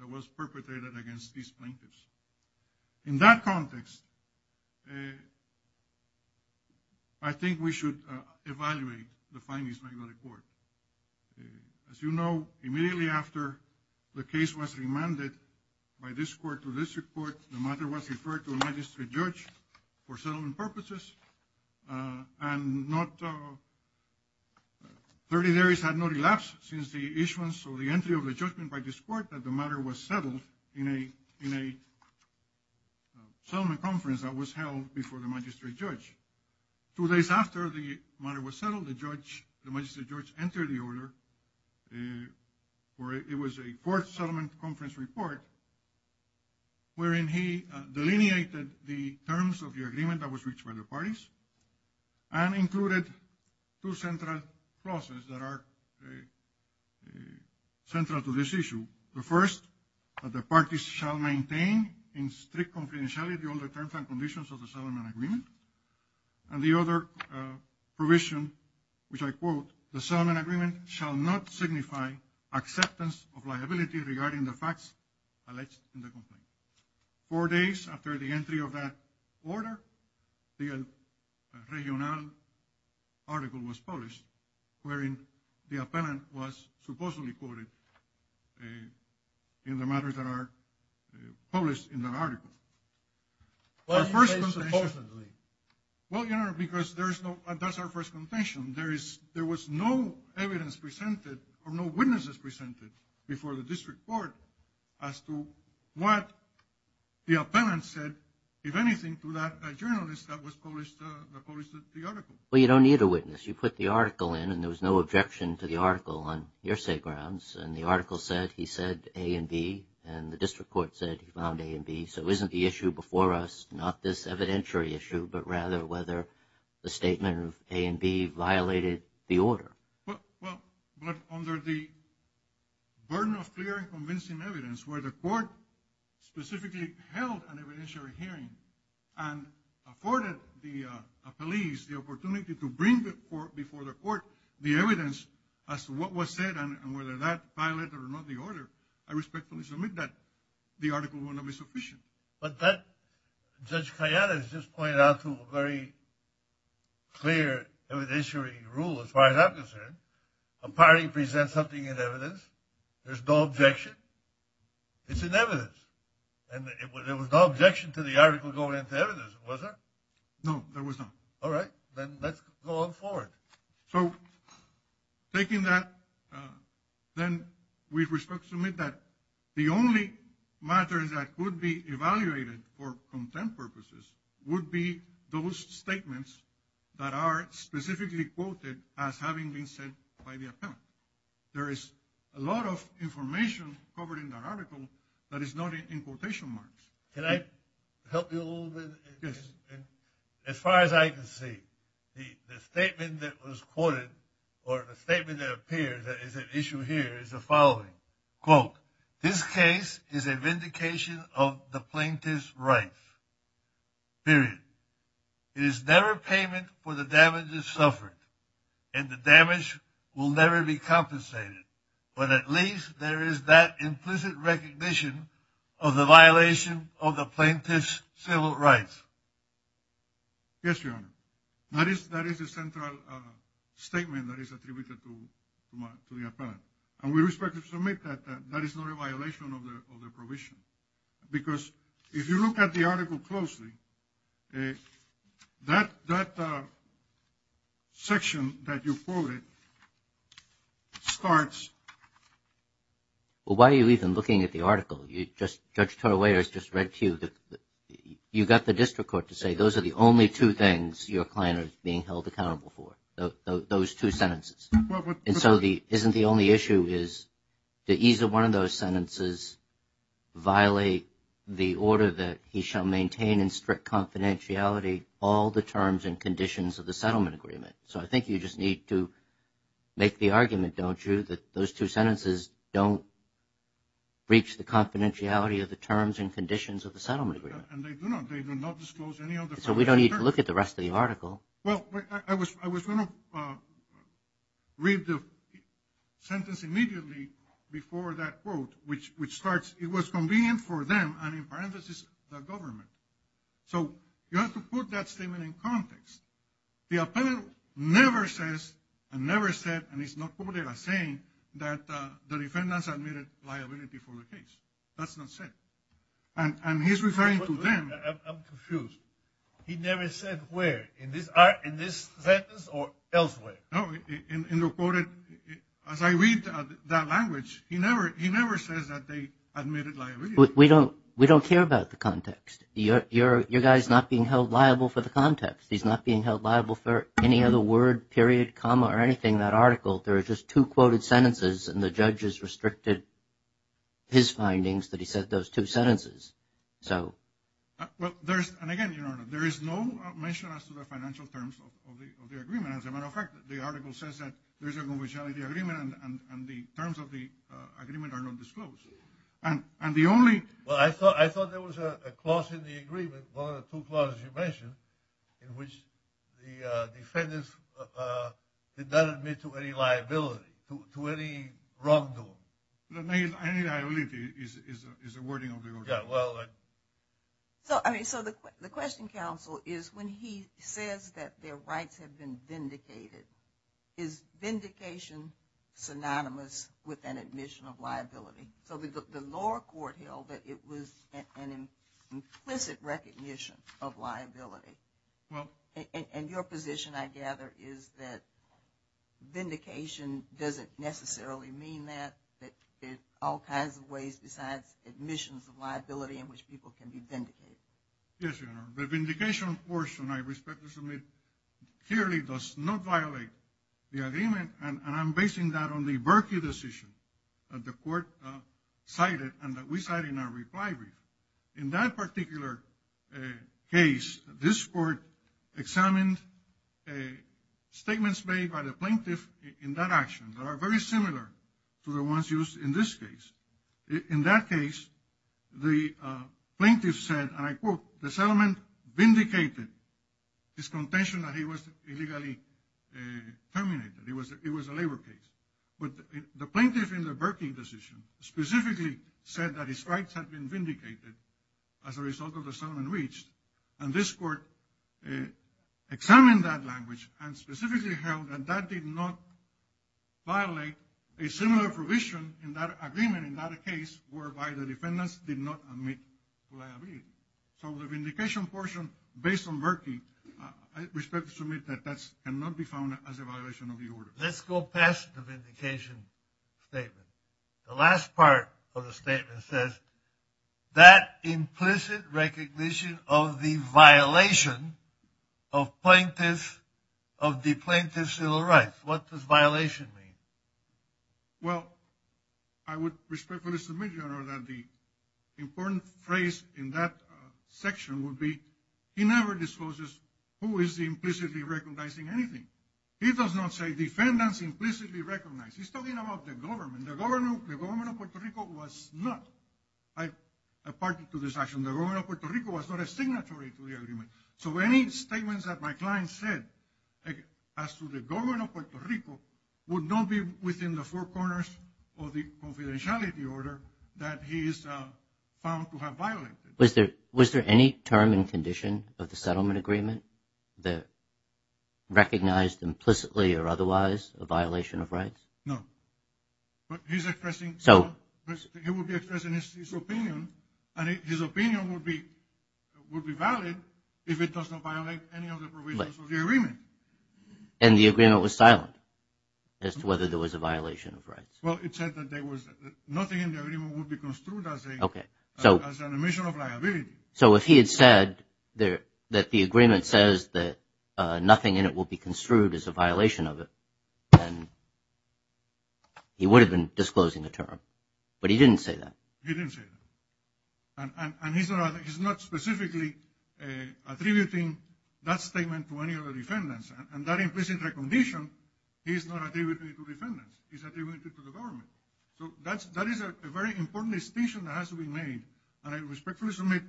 that was perpetrated against these plaintiffs. In that context, I think we should evaluate the findings by the court. As you know, immediately after the case was remanded by this court to this report, the matter was referred to a magistrate judge for settlement purposes and not 30 days had not elapsed since the issuance or the entry of the judgment by this court that the matter was settled in a in a settlement conference that was held before the magistrate judge. Two days after the matter was settled, the judge, the magistrate judge entered the order where it was a court settlement conference report wherein he delineated the terms of the agreement that was reached by the parties and included two central clauses that are central to this issue. The first, that the parties shall maintain in strict confidentiality all the terms and conditions of the settlement agreement and the other provision which I quote, the settlement agreement shall not signify acceptance of liability regarding the facts alleged in the complaint. Four days after the entry of that order, the regional article was published wherein the appellant was supposedly quoted in the matters that are published in the article. Well, you know, because there's no, that's our first contention. There is, there was no evidence presented or no witnesses presented before the court as to what the appellant said, if anything, to that journalist that was published, that published the article. Well, you don't need a witness. You put the article in and there was no objection to the article on hearsay grounds and the article said he said A and B and the district court said he found A and B, so isn't the issue before us not this evidentiary issue but rather whether the statement of A and B violated the order? Well, but under the burden of clear and the court specifically held an evidentiary hearing and afforded the police the opportunity to bring before the court the evidence as to what was said and whether that violated or not the order, I respectfully submit that the article will not be sufficient. But that, Judge Kayane has just pointed out to a very clear evidentiary rule as far as I'm concerned. A party presents something in evidence, there's no objection, it's in evidence, and there was no objection to the article going into evidence, was there? No, there was not. All right, then let's go on forward. So taking that, then we respectfully submit that the only matters that could be evaluated for contempt purposes would be those statements that are specifically quoted as having been said by the a lot of information covered in that article that is noted in quotation marks. Can I help you a little bit? Yes. As far as I can see, the statement that was quoted or the statement that appears that is an issue here is the following, quote, this case is a vindication of the plaintiff's rights, period. It is never payment for the damages suffered and the damage will never be compensated. But at least there is that implicit recognition of the violation of the plaintiff's civil rights. Yes, your honor. That is the central statement that is attributed to the appellant. And we respectfully submit that that is not a violation of the provision. Because if you look at the article, well, why are you even looking at the article? You just, Judge Toro-Weyers just read to you that you got the district court to say those are the only two things your client is being held accountable for, those two sentences. And so the, isn't the only issue is that either one of those sentences violate the order that he shall maintain in strict confidentiality all the terms and conditions of the settlement agreement. So I think you just need to make the argument, don't you, that those two sentences don't reach the confidentiality of the terms and conditions of the settlement agreement. And they do not, they do not disclose any other. So we don't need to look at the rest of the article. Well, I was, I was going to read the sentence immediately before that quote, which, which starts, it was convenient for them, and in parentheses, the government. So you have to put that statement in context. The appellate never says, and never said, and it's not quoted as saying that the defendants admitted liability for the case. That's not said. And he's referring to them. I'm confused. He never said where, in this sentence or elsewhere? No, in the quoted, as I read that language, he never, he never says that they admitted liability. We don't, we don't care about the context. You're, you're, your guy's not being held liable for the context. He's not being held liable for any other word, period, comma, or anything. That article, there are just two quoted sentences, and the judges restricted his findings that he said those two sentences. So. Well, there's, and again, there is no mention as to the financial terms of the agreement. As a matter of fact, the article says that there's a confidentiality agreement, and the terms of the clause in the agreement, one of the two clauses you mentioned, in which the defendants did not admit to any liability, to any wrongdoing. The main, I mean, I believe is, is, is the wording of the article. Yeah, well. So, I mean, so the, the question, counsel, is when he says that their rights have been vindicated, is vindication synonymous with an admission of liability? So, the, the lower court held that it was an implicit recognition of liability. Well. And, and your position, I gather, is that vindication doesn't necessarily mean that, that there's all kinds of ways besides admissions of liability in which people can be vindicated. Yes, Your Honor. The vindication portion, I respectfully submit, clearly does not violate the agreement, and I'm basing that on the Berkey decision that the court cited, and that we cited in our reply brief. In that particular case, this court examined statements made by the plaintiff in that action that are very similar to the ones used in this case. In that case, the plaintiff said, and I quote, the settlement vindicated his contention that he was illegally terminated. It was, it was a labor case. But the plaintiff in the Berkey decision specifically said that his rights had been vindicated as a result of the settlement reached, and this court examined that language and specifically held that that did not violate a similar provision in that agreement, in that case, whereby the defendants did not admit liability. So the vindication portion, based on Berkey, I respectfully submit that that cannot be found as a violation of the order. Let's go past the vindication statement. The last part of the statement says that implicit recognition of the violation of plaintiff, of the plaintiff's civil rights. What does violation mean? Well, I would respectfully submit, Your Honor, that the important phrase in that section would be, he never discloses who is implicitly recognizing anything. He does not say defendants implicitly recognize. He's talking about the government. The government of Puerto Rico was not, I, apart to this action, the government of Puerto Rico was not a signatory to the agreement. So any statements that my client said, as to the government of Puerto Rico, would not be within the four corners of the confidentiality order that he is found to have violated. Was there, was there any term and condition of the settlement agreement that recognized implicitly or otherwise a violation of rights? No, but he's expressing, he would be expressing his opinion and his opinion would be, would be valid if it does not violate any of the provisions of the agreement. And the agreement was silent, as to whether there was a violation of rights. Well, it said that there was nothing in the agreement would be construed as a, as an omission of liability. So if he had said that the agreement says that nothing in it will be construed as a violation of it, then he would have been disclosing a term, but he didn't say that. He didn't say that. And he's not, he's not specifically attributing that statement to any other defendants and that implicit recognition, he's not attributing it to defendants, he's attributing it to the government. So that's, that is a very important distinction that has to be made. And I respectfully submit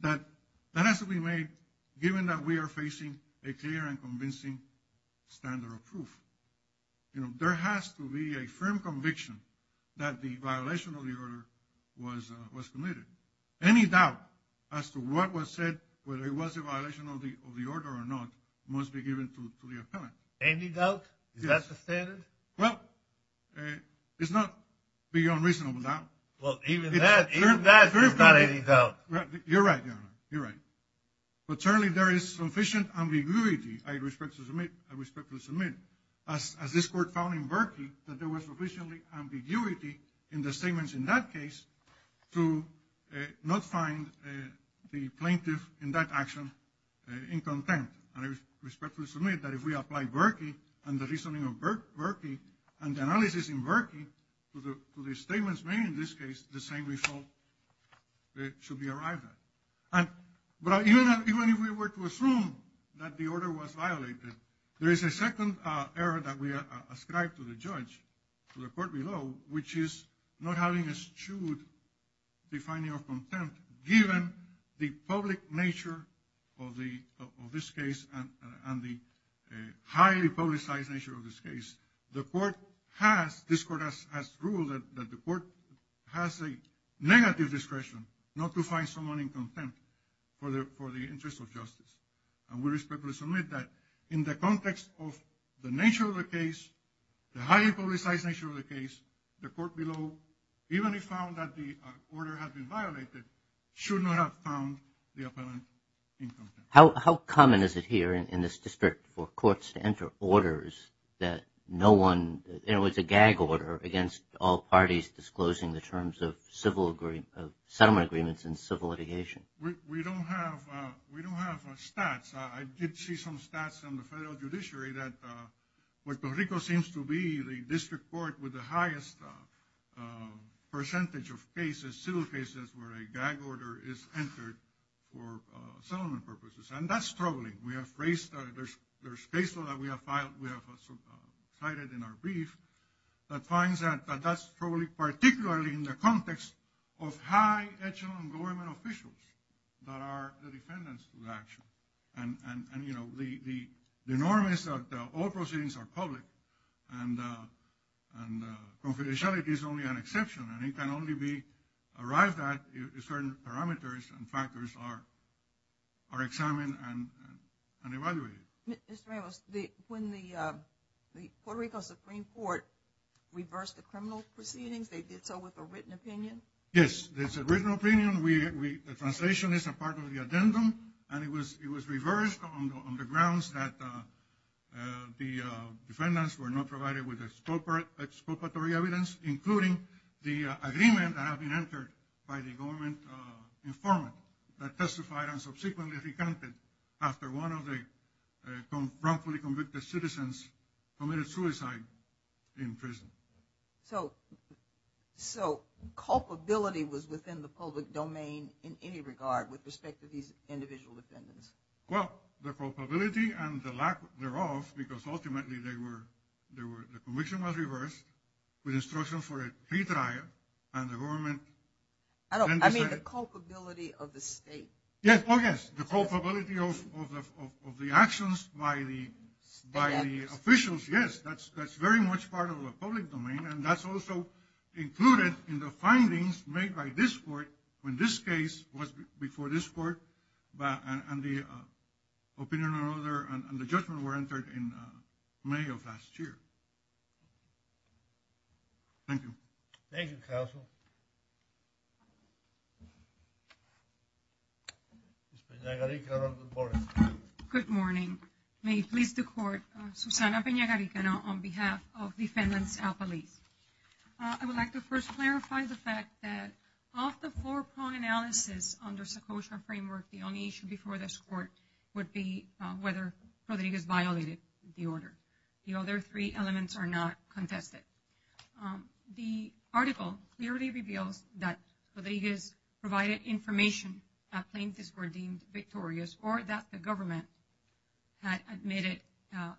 that, that has to be made given that we are facing a clear and convincing standard of proof. You know, there has to be a firm conviction that the violation of the order was, was committed. Any doubt as to what was said, whether it was a violation of the, of the order or not, must be given to the appellant. Any doubt? Is that the standard? Well, it's not beyond reasonable doubt. Well, even that, even that, there's not any doubt. You're right. You're right. But certainly there is sufficient ambiguity. I respect to submit, I respectfully submit as this court found in Berkey that there was sufficiently ambiguity in the statements in that case to not find the plaintiff in that action in contempt. And I respectfully submit that if we apply Berkey and the reasoning of Berkey and the analysis in Berkey to the, to the statements made in this case, the same result should be arrived at. But even if we were to assume that the order was violated, there is a second error that we ascribe to the judge, to the court below, which is not having eschewed the finding of contempt given the public nature of the, of this case and the highly publicized nature of this case, the court has, this court has ruled that the court has a negative discretion not to find someone in contempt for the, for the interest of justice. And we respectfully submit that in the context of the nature of the case, the highly publicized nature of the case, the court below, even if found that the order had been violated, should not have found the that no one, you know, it's a gag order against all parties disclosing the terms of civil agree, of settlement agreements and civil litigation. We don't have, we don't have stats. I did see some stats from the federal judiciary that Puerto Rico seems to be the district court with the highest percentage of cases, civil cases, where a gag order is entered for settlement purposes. And that's troubling. We have raised, there's, there's case law that we have filed, we have cited in our brief that finds that, that that's probably particularly in the context of high echelon government officials that are the defendants to the action. And, and, and, you know, the, the norm is that all proceedings are public and, and confidentiality is only an exception. And it can only be arrived at if certain parameters and factors are, are examined and, and evaluated. Mr. Ramos, the, when the, the Puerto Rico Supreme Court reversed the criminal proceedings, they did so with a written opinion? Yes, there's a written opinion. We, we, the translation is a part of the addendum and it was, it was reversed on the grounds that the defendants were not provided with expropriatory evidence, including the agreement that had been entered by the government informant that testified and subsequently recounted after one of the wrongfully convicted citizens committed suicide in prison. So, so culpability was within the public domain in any regard with respect to these individual defendants? Well, the culpability and the lack thereof, because ultimately they were, they were, the conviction was reversed with instruction for a pre-trial and the government. I don't, I mean the culpability of the state. Yes, oh yes. The culpability of, of the, of the actions by the, by the officials. Yes, that's, that's very much part of the public domain. And that's also included in the findings made by this court when this case was before this court, and the opinion or other, and the judgment were entered in May of last year. Thank you. Thank you, counsel. Good morning. May it please the court, Susana Peña-Garicano on behalf of defendants al-Paliz. I would like to first clarify the fact that of the four-prong analysis under Secocia framework, the only issue before this court would be whether Rodriguez violated the order. The other three elements are not contested. The article clearly reveals that Rodriguez provided information that plaintiffs were deemed victorious or that the government had admitted that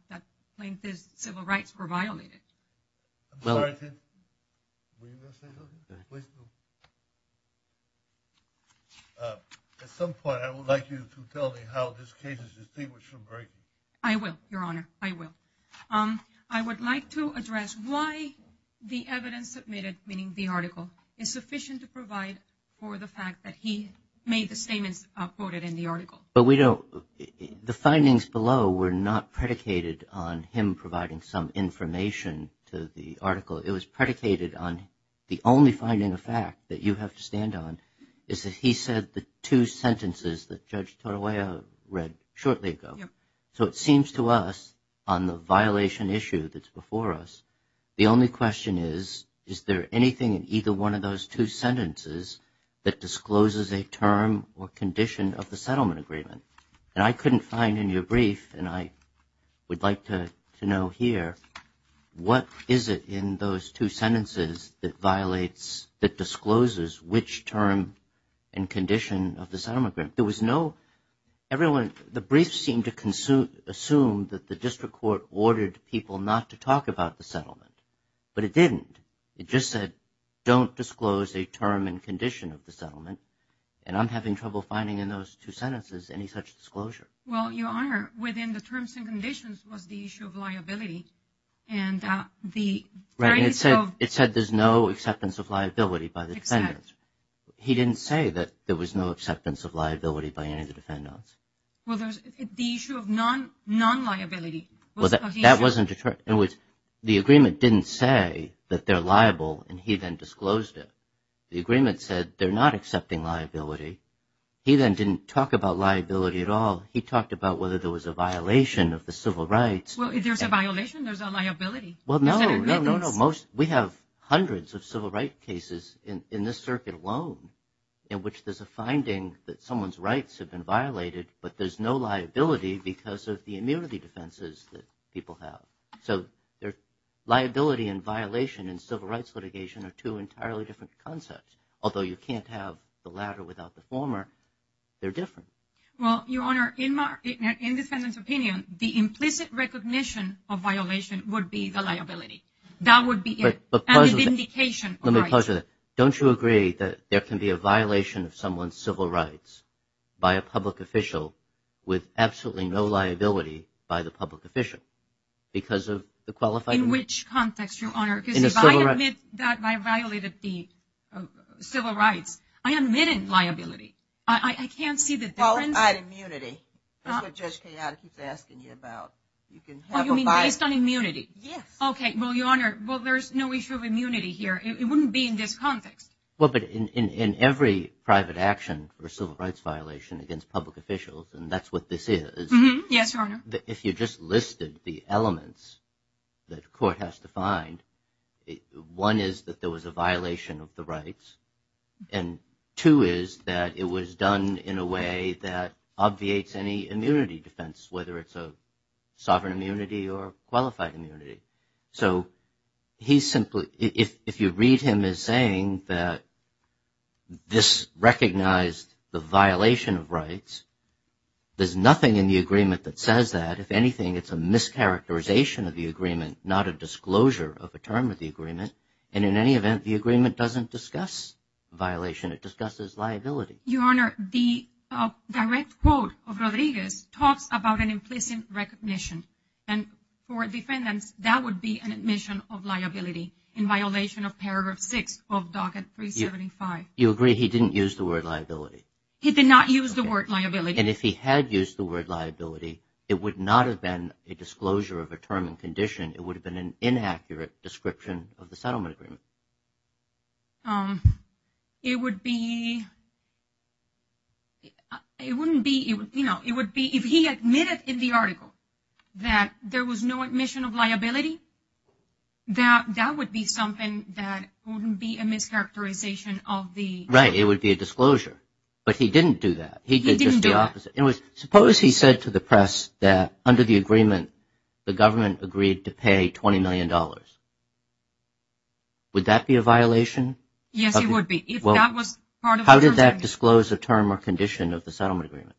the evidence submitted, meaning the article, is sufficient to provide for the fact that he made the statements quoted in the article. But we don't, the findings below were not predicated on him providing some information to the article. It was predicated on the only finding of fact that you have to stand on is that he said the two sentences that Judge Torroya read shortly ago. So it seems to us on the violation issue that's before us, the only question is, is there anything in either one of those two sentences that discloses a term or condition of the settlement agreement? And I couldn't find in your brief, and I would like to know here, what is it in those two sentences that violates, that discloses which term and condition of the settlement agreement? There was no, everyone, the brief seemed to assume that the district court ordered people not to talk about the settlement, but it didn't. It just said, don't disclose a term and condition of the settlement. And I'm having trouble finding in those two sentences any such disclosure. Well, Your Honor, within the terms and conditions was the issue of liability. And the... It said there's no acceptance of liability by the defendants. He didn't say that there was no acceptance of liability by any of the defendants. Well, there's the issue of non-liability. Well, that wasn't, in which the agreement didn't say that they're liable and he then disclosed it. The agreement said they're not accepting liability. He then didn't talk about liability at all. He talked about whether there was a violation of the civil rights. Well, if there's a violation, there's a liability. Well, no, no, no, no. Most, we have hundreds of civil rights cases in this circuit alone in which there's a finding that someone's rights have been violated, but there's no liability because of the immunity defenses that people have. So, their liability and violation in civil rights litigation are two entirely different concepts. Although you can't have the latter without the former, they're different. Well, Your Honor, in the defendant's opinion, the implicit recognition of violation would be the liability. That would be it. But, but... And the vindication of rights. Let me pause with that. Don't you agree that there can be a violation of someone's civil rights by a public official with absolutely no liability by the public official because of the qualified immunity? In which context, Your Honor? In the civil rights... I admit that I violated the civil rights. I admitted liability. I can't see the difference. Qualified immunity. That's what Judge Kayada keeps asking you about. You can have a violation... Oh, you mean based on immunity? Yes. Okay. Well, Your Honor, well, there's no issue of immunity here. It wouldn't be in this context. Well, but in every private action or civil rights violation against public officials, and that's what this is... Mm-hmm. Yes, Your Honor. If you just listed the elements that a court has to find, one is that there was a violation of the rights. And two is that it was done in a way that obviates any immunity defense, whether it's a sovereign immunity or qualified immunity. So he's simply... If you read him as saying that this recognized the violation of rights, there's nothing in the agreement that says that. If anything, it's a mischaracterization of the agreement, not a disclosure of a term of the agreement. And in any event, the agreement doesn't discuss violation. It discusses liability. Your Honor, the direct quote of Rodriguez talks about an implicit recognition. And for defendants, that would be an admission of liability in violation of paragraph six of docket 375. You agree he didn't use the word liability? He did not use the word liability. And if he had used the word liability, it would not have been a disclosure of a term and condition. It would have been an inaccurate description of the settlement agreement. It would be... It wouldn't be... If he admitted in the article that there was no admission of liability, that would be something that wouldn't be a mischaracterization of the... Right. It would be a disclosure. But he didn't do that. He did just the opposite. Suppose he said to the press that under the agreement, the government agreed to pay $20 million. Would that be a violation? Yes, it would be. If that was part of... How did that disclose a term or condition of the settlement agreement?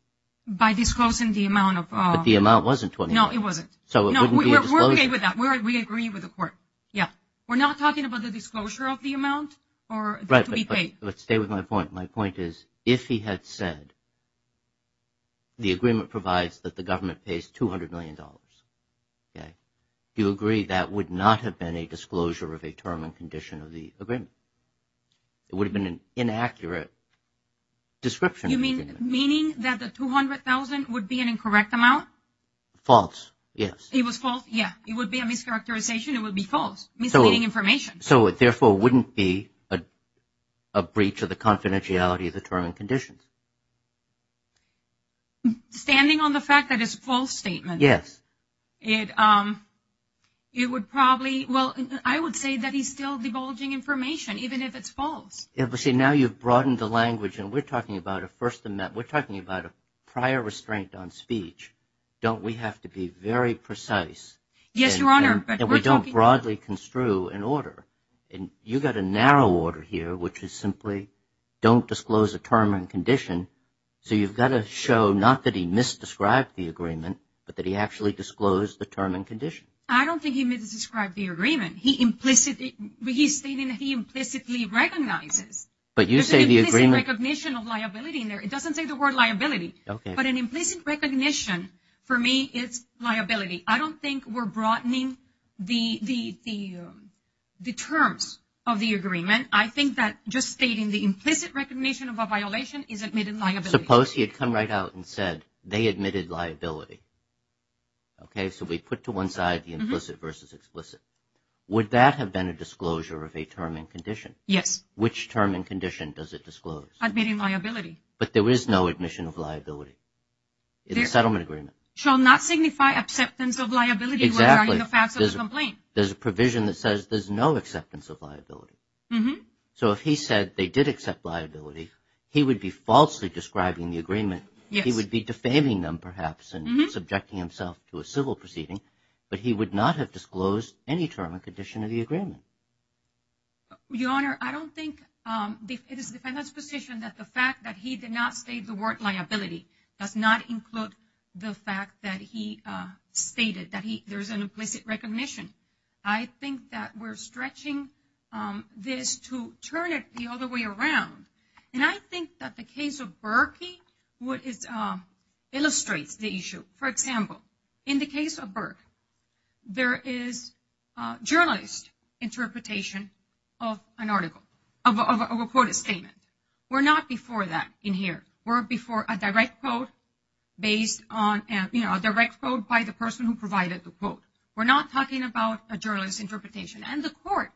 By disclosing the amount of... But the amount wasn't $20 million. No, it wasn't. So it wouldn't be a disclosure. We're okay with that. We agree with the court. Yeah. We're not talking about the disclosure of the amount to be paid. But stay with my point. My point is, if he had said, the agreement provides that the government pays $200 million. Do you agree that would not have been a disclosure of a term and condition of the agreement? It would have been an inaccurate description. You mean, meaning that the $200,000 would be an incorrect amount? False. Yes. It was false. Yeah. It would be a mischaracterization. It would be false. Misleading information. So it therefore wouldn't be a breach of the confidentiality of the term and conditions. Standing on the fact that it's a false statement. Yes. It would probably... Well, I would say that he's still divulging information, even if it's false. Yeah, but see, now you've broadened the language and we're talking about a first... We're talking about a prior restraint on speech. Don't we have to be very precise? Yes, Your Honor, but we're talking... You've got a narrow order here, which is simply don't disclose a term and condition. So you've got to show not that he misdescribed the agreement, but that he actually disclosed the term and condition. I don't think he misdescribed the agreement. He implicitly... He's stating that he implicitly recognizes. But you say the agreement... There's an implicit recognition of liability in there. It doesn't say the word liability. Okay. But an implicit recognition, for me, it's liability. I don't think we're broadening the terms of the agreement. I think that just stating the implicit recognition of a violation is admitted liability. Suppose he had come right out and said they admitted liability. Okay, so we put to one side the implicit versus explicit. Would that have been a disclosure of a term and condition? Yes. Which term and condition does it disclose? Admitting liability. But there is no admission of liability in the settlement agreement. Shall not signify acceptance of liability... Exactly. ...in the facts of the complaint. There's a provision that says there's no acceptance of liability. So if he said they did accept liability, he would be falsely describing the agreement. Yes. He would be defaming them, perhaps, and subjecting himself to a civil proceeding. But he would not have disclosed any term and condition of the agreement. Your Honor, I don't think... It is the defendant's position that the fact that he did not state the word liability does not include the fact that he stated that there's an implicit recognition. I think that we're stretching this to turn it the other way around. And I think that the case of Berkey illustrates the issue. For example, in the case of Berk, there is a journalist interpretation of an article, of a reported statement. We're not before that in here. We're before a direct quote by the person who provided the quote. We're not talking about a journalist interpretation. And the court,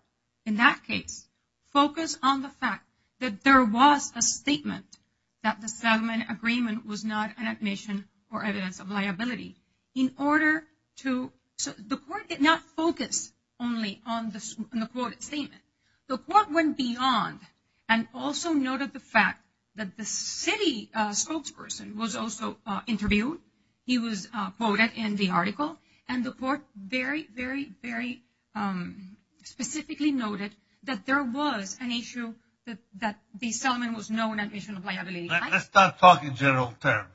in that case, focused on the fact that there was a statement that the settlement agreement was not an admission or evidence of liability. The court did not focus only on the quoted statement. The court went beyond and also noted the fact that the city spokesperson was also interviewed. He was quoted in the article. And the court very, very, very specifically noted that there was an issue that the settlement was not an admission of liability. Let's not talk in general terms.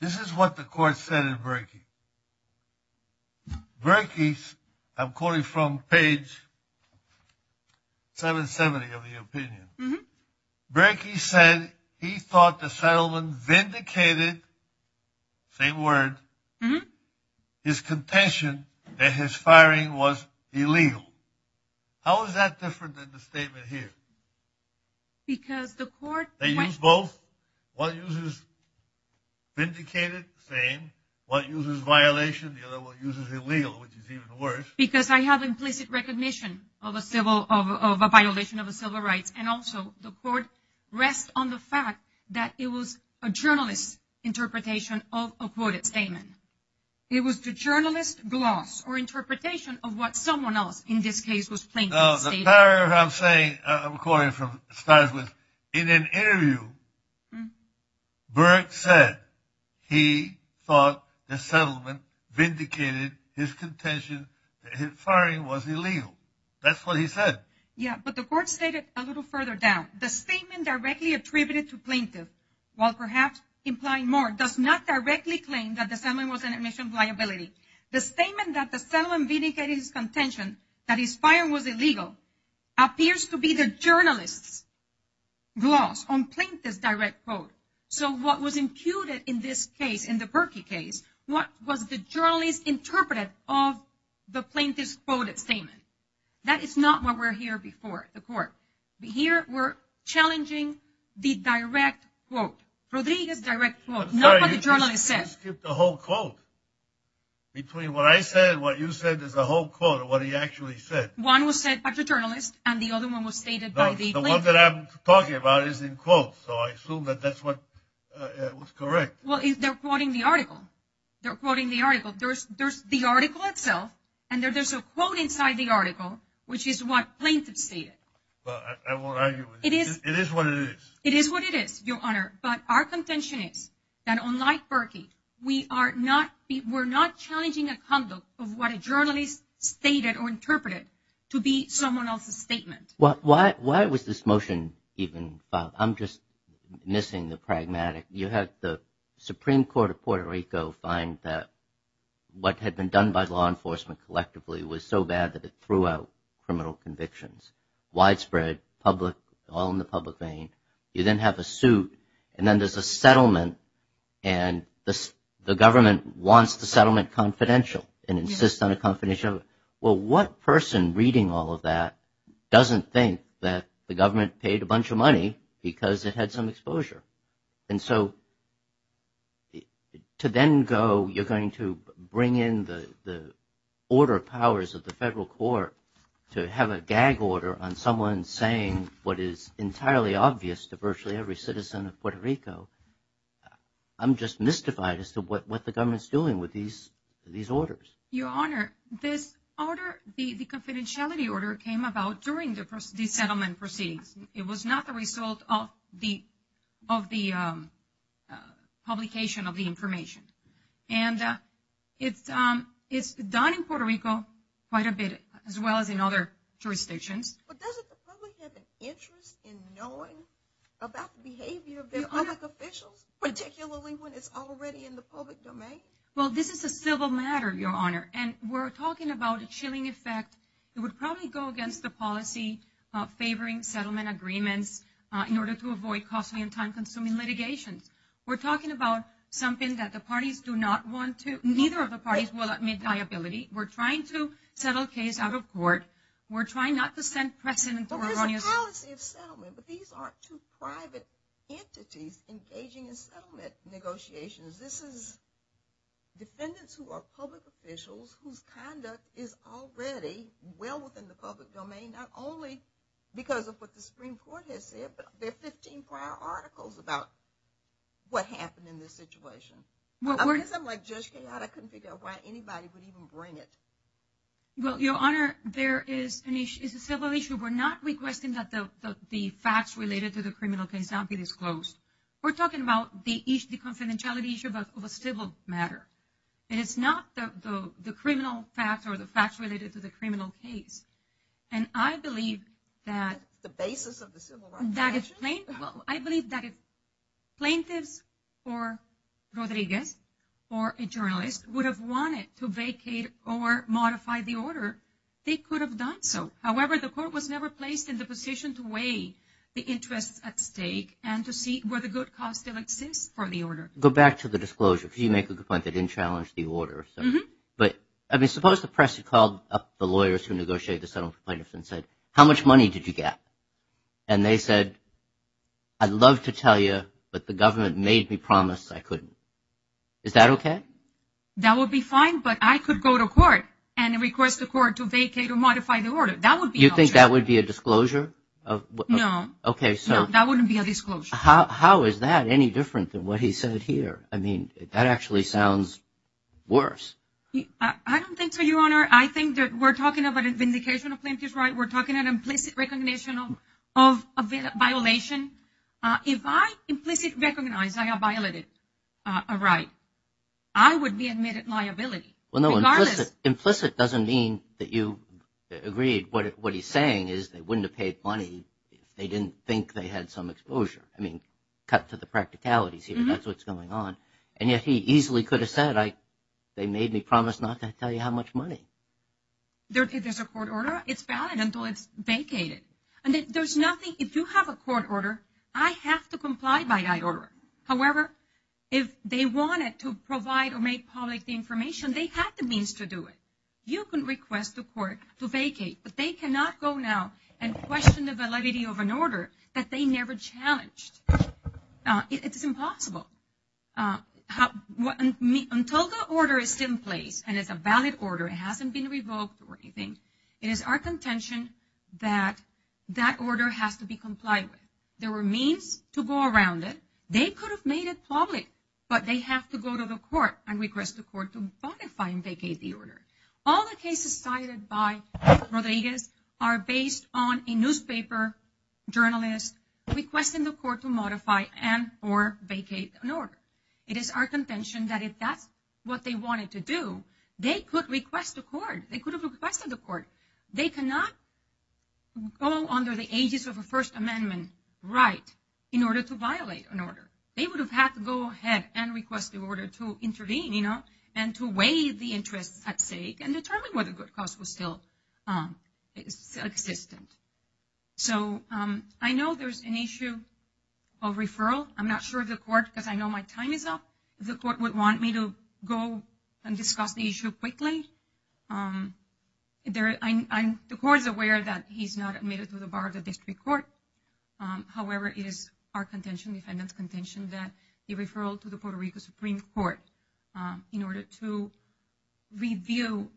This is what the court said in Berkey. Berkey, I'm quoting from page 770 of the opinion. Berkey said he thought the settlement vindicated, same word, his contention that his firing was illegal. How is that different than the statement here? Because the court went... They used both. One uses vindicated, same. One uses violation. The other one uses illegal, which is even worse. Because I have implicit recognition of a violation of civil rights. And also, the court rests on the fact that it was a journalist's interpretation of a quoted statement. It was the journalist's gloss or interpretation of what someone else, in this case, was claiming. The paragraph I'm saying, I'm quoting from, starts with, in an interview, Berkey said he thought the settlement vindicated his contention that his firing was illegal. That's what he said. Yeah, but the court stated a little further down. The statement directly attributed to plaintiff, while perhaps implying more, does not directly claim that the settlement was an admission of liability. The statement that the settlement vindicated his contention that his firing was illegal appears to be the journalist's gloss on plaintiff's direct quote. So what was imputed in this case, in the Berkey case, what was the journalist interpreted of the plaintiff's quoted statement? That is not what we're hearing before the court. Here, we're challenging the direct quote, Rodriguez's direct quote, not what the journalist said. Between what I said and what you said, there's a whole quote of what he actually said. One was said by the journalist, and the other one was stated by the plaintiff. The one that I'm talking about is in quotes, so I assume that that's what was correct. Well, they're quoting the article. They're quoting the article. There's the article itself, and there's a quote inside the article, which is what plaintiff stated. Well, I won't argue with that. It is what it is. It is what it is, Your Honor. But our contention is that, unlike Berkey, we're not challenging a conduct of what a journalist stated or interpreted to be someone else's statement. Why was this motion even filed? I'm just missing the pragmatic. You had the Supreme Court of Puerto Rico find that what had been done by law enforcement collectively was so bad that it threw out criminal convictions, widespread, public, all in the public vein. You then have a suit, and then there's a settlement, and the government wants the settlement confidential and insists on a confidentiality. Well, what person reading all of that doesn't think that the government paid a bunch of money because it had some exposure? And so to then go, you're going to bring in the order of powers of the federal court to have a gag order on someone saying what is entirely obvious to virtually every citizen of Puerto Rico, I'm just mystified as to what the government's doing with these orders. Your Honor, this order, the confidentiality order came about during the settlement proceedings. It was not the result of the publication of the information. And it's done in Puerto Rico quite a bit, as well as in other jurisdictions. But doesn't the public have an interest in knowing about the behavior of their public officials, particularly when it's already in the public domain? Well, this is a civil matter, Your Honor, and we're talking about a chilling effect that would probably go against the policy of favoring settlement agreements in order to avoid costly and time-consuming litigations. We're talking about something that the parties do not want to, neither of the parties will admit liability. We're trying to settle a case out of court. We're trying not to send precedent to erroneous... Well, there's a policy of settlement, but these aren't two private entities engaging in settlement negotiations. This is defendants who are public officials whose conduct is already well within the public domain, not only because of what the Supreme Court has said, but there are 15 prior articles about what happened in this situation. Because I'm like Judge Kayotte, I couldn't figure out why anybody would even bring it. Well, Your Honor, there is a civil issue. We're not requesting that the facts related to the criminal case not be disclosed. We're talking about the confidentiality issue of a civil matter, and it's not the criminal facts or the facts related to the criminal case. And I believe that... The basis of the civil right... Well, I believe that if plaintiffs or Rodriguez or a journalist would have wanted to vacate or modify the order, they could have done so. However, the court was never placed in the position to weigh the interests at stake and to see where the good cause still exists for the order. Go back to the disclosure, because you make a good point. They didn't challenge the order. But, I mean, suppose the press had called up the lawyers who negotiated the settlement plaintiffs and said, how much money did you get? And they said, I'd love to tell you, but the government made me promise I couldn't. Is that okay? That would be fine, but I could go to court and request the court to vacate or modify the order. That would be... You think that would be a disclosure? No. Okay, so... That wouldn't be a disclosure. How is that any different than what he said here? I mean, that actually sounds worse. I don't think so, Your Honor. I think that we're talking about a vindication of plaintiff's right. We're talking an implicit recognition of a violation. If I implicit recognize I have violated a right, I would be admitted liability. Well, no, implicit doesn't mean that you agreed. What he's saying is they wouldn't have paid money if they didn't think they had some exposure. I mean, cut to the practicalities here. That's what's going on. And yet he easily could have said, they made me promise not to tell you how much money. If there's a court order, it's valid. Until it's vacated. And there's nothing... If you have a court order, I have to comply by that order. However, if they wanted to provide or make public the information, they had the means to do it. You can request the court to vacate. But they cannot go now and question the validity of an order that they never challenged. It's impossible. Until the order is in place, and it's a valid order, it hasn't been revoked or anything, it is our contention that that order has to be complied with. There were means to go around it. They could have made it public, but they have to go to the court and request the court to modify and vacate the order. All the cases cited by Rodriguez are based on a newspaper journalist requesting the court to modify and or vacate an order. It is our contention that if that's what they wanted to do, they could request the court. They could have requested the court. They cannot go under the aegis of a First Amendment right in order to violate an order. They would have had to go ahead and request the order to intervene, you know, and to weigh the interests at stake and determine whether good cause was still existent. So I know there's an issue of referral. I'm not sure if the court, because I know my time is up, the court would want me to go and discuss the issue quickly. The court is aware that he's not admitted to the bar of the district court. However, it is our contention, defendant's contention, that the referral to the Puerto Rico Supreme Court in order to review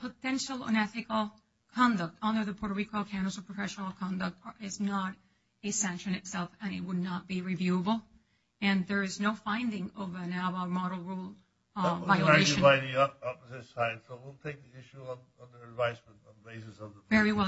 potential unethical conduct under the Puerto Rico standards of professional conduct is not a sanction itself, and it would not be reviewable. And there is no finding of an ABBA model rule violation. Thank you, Your Honor.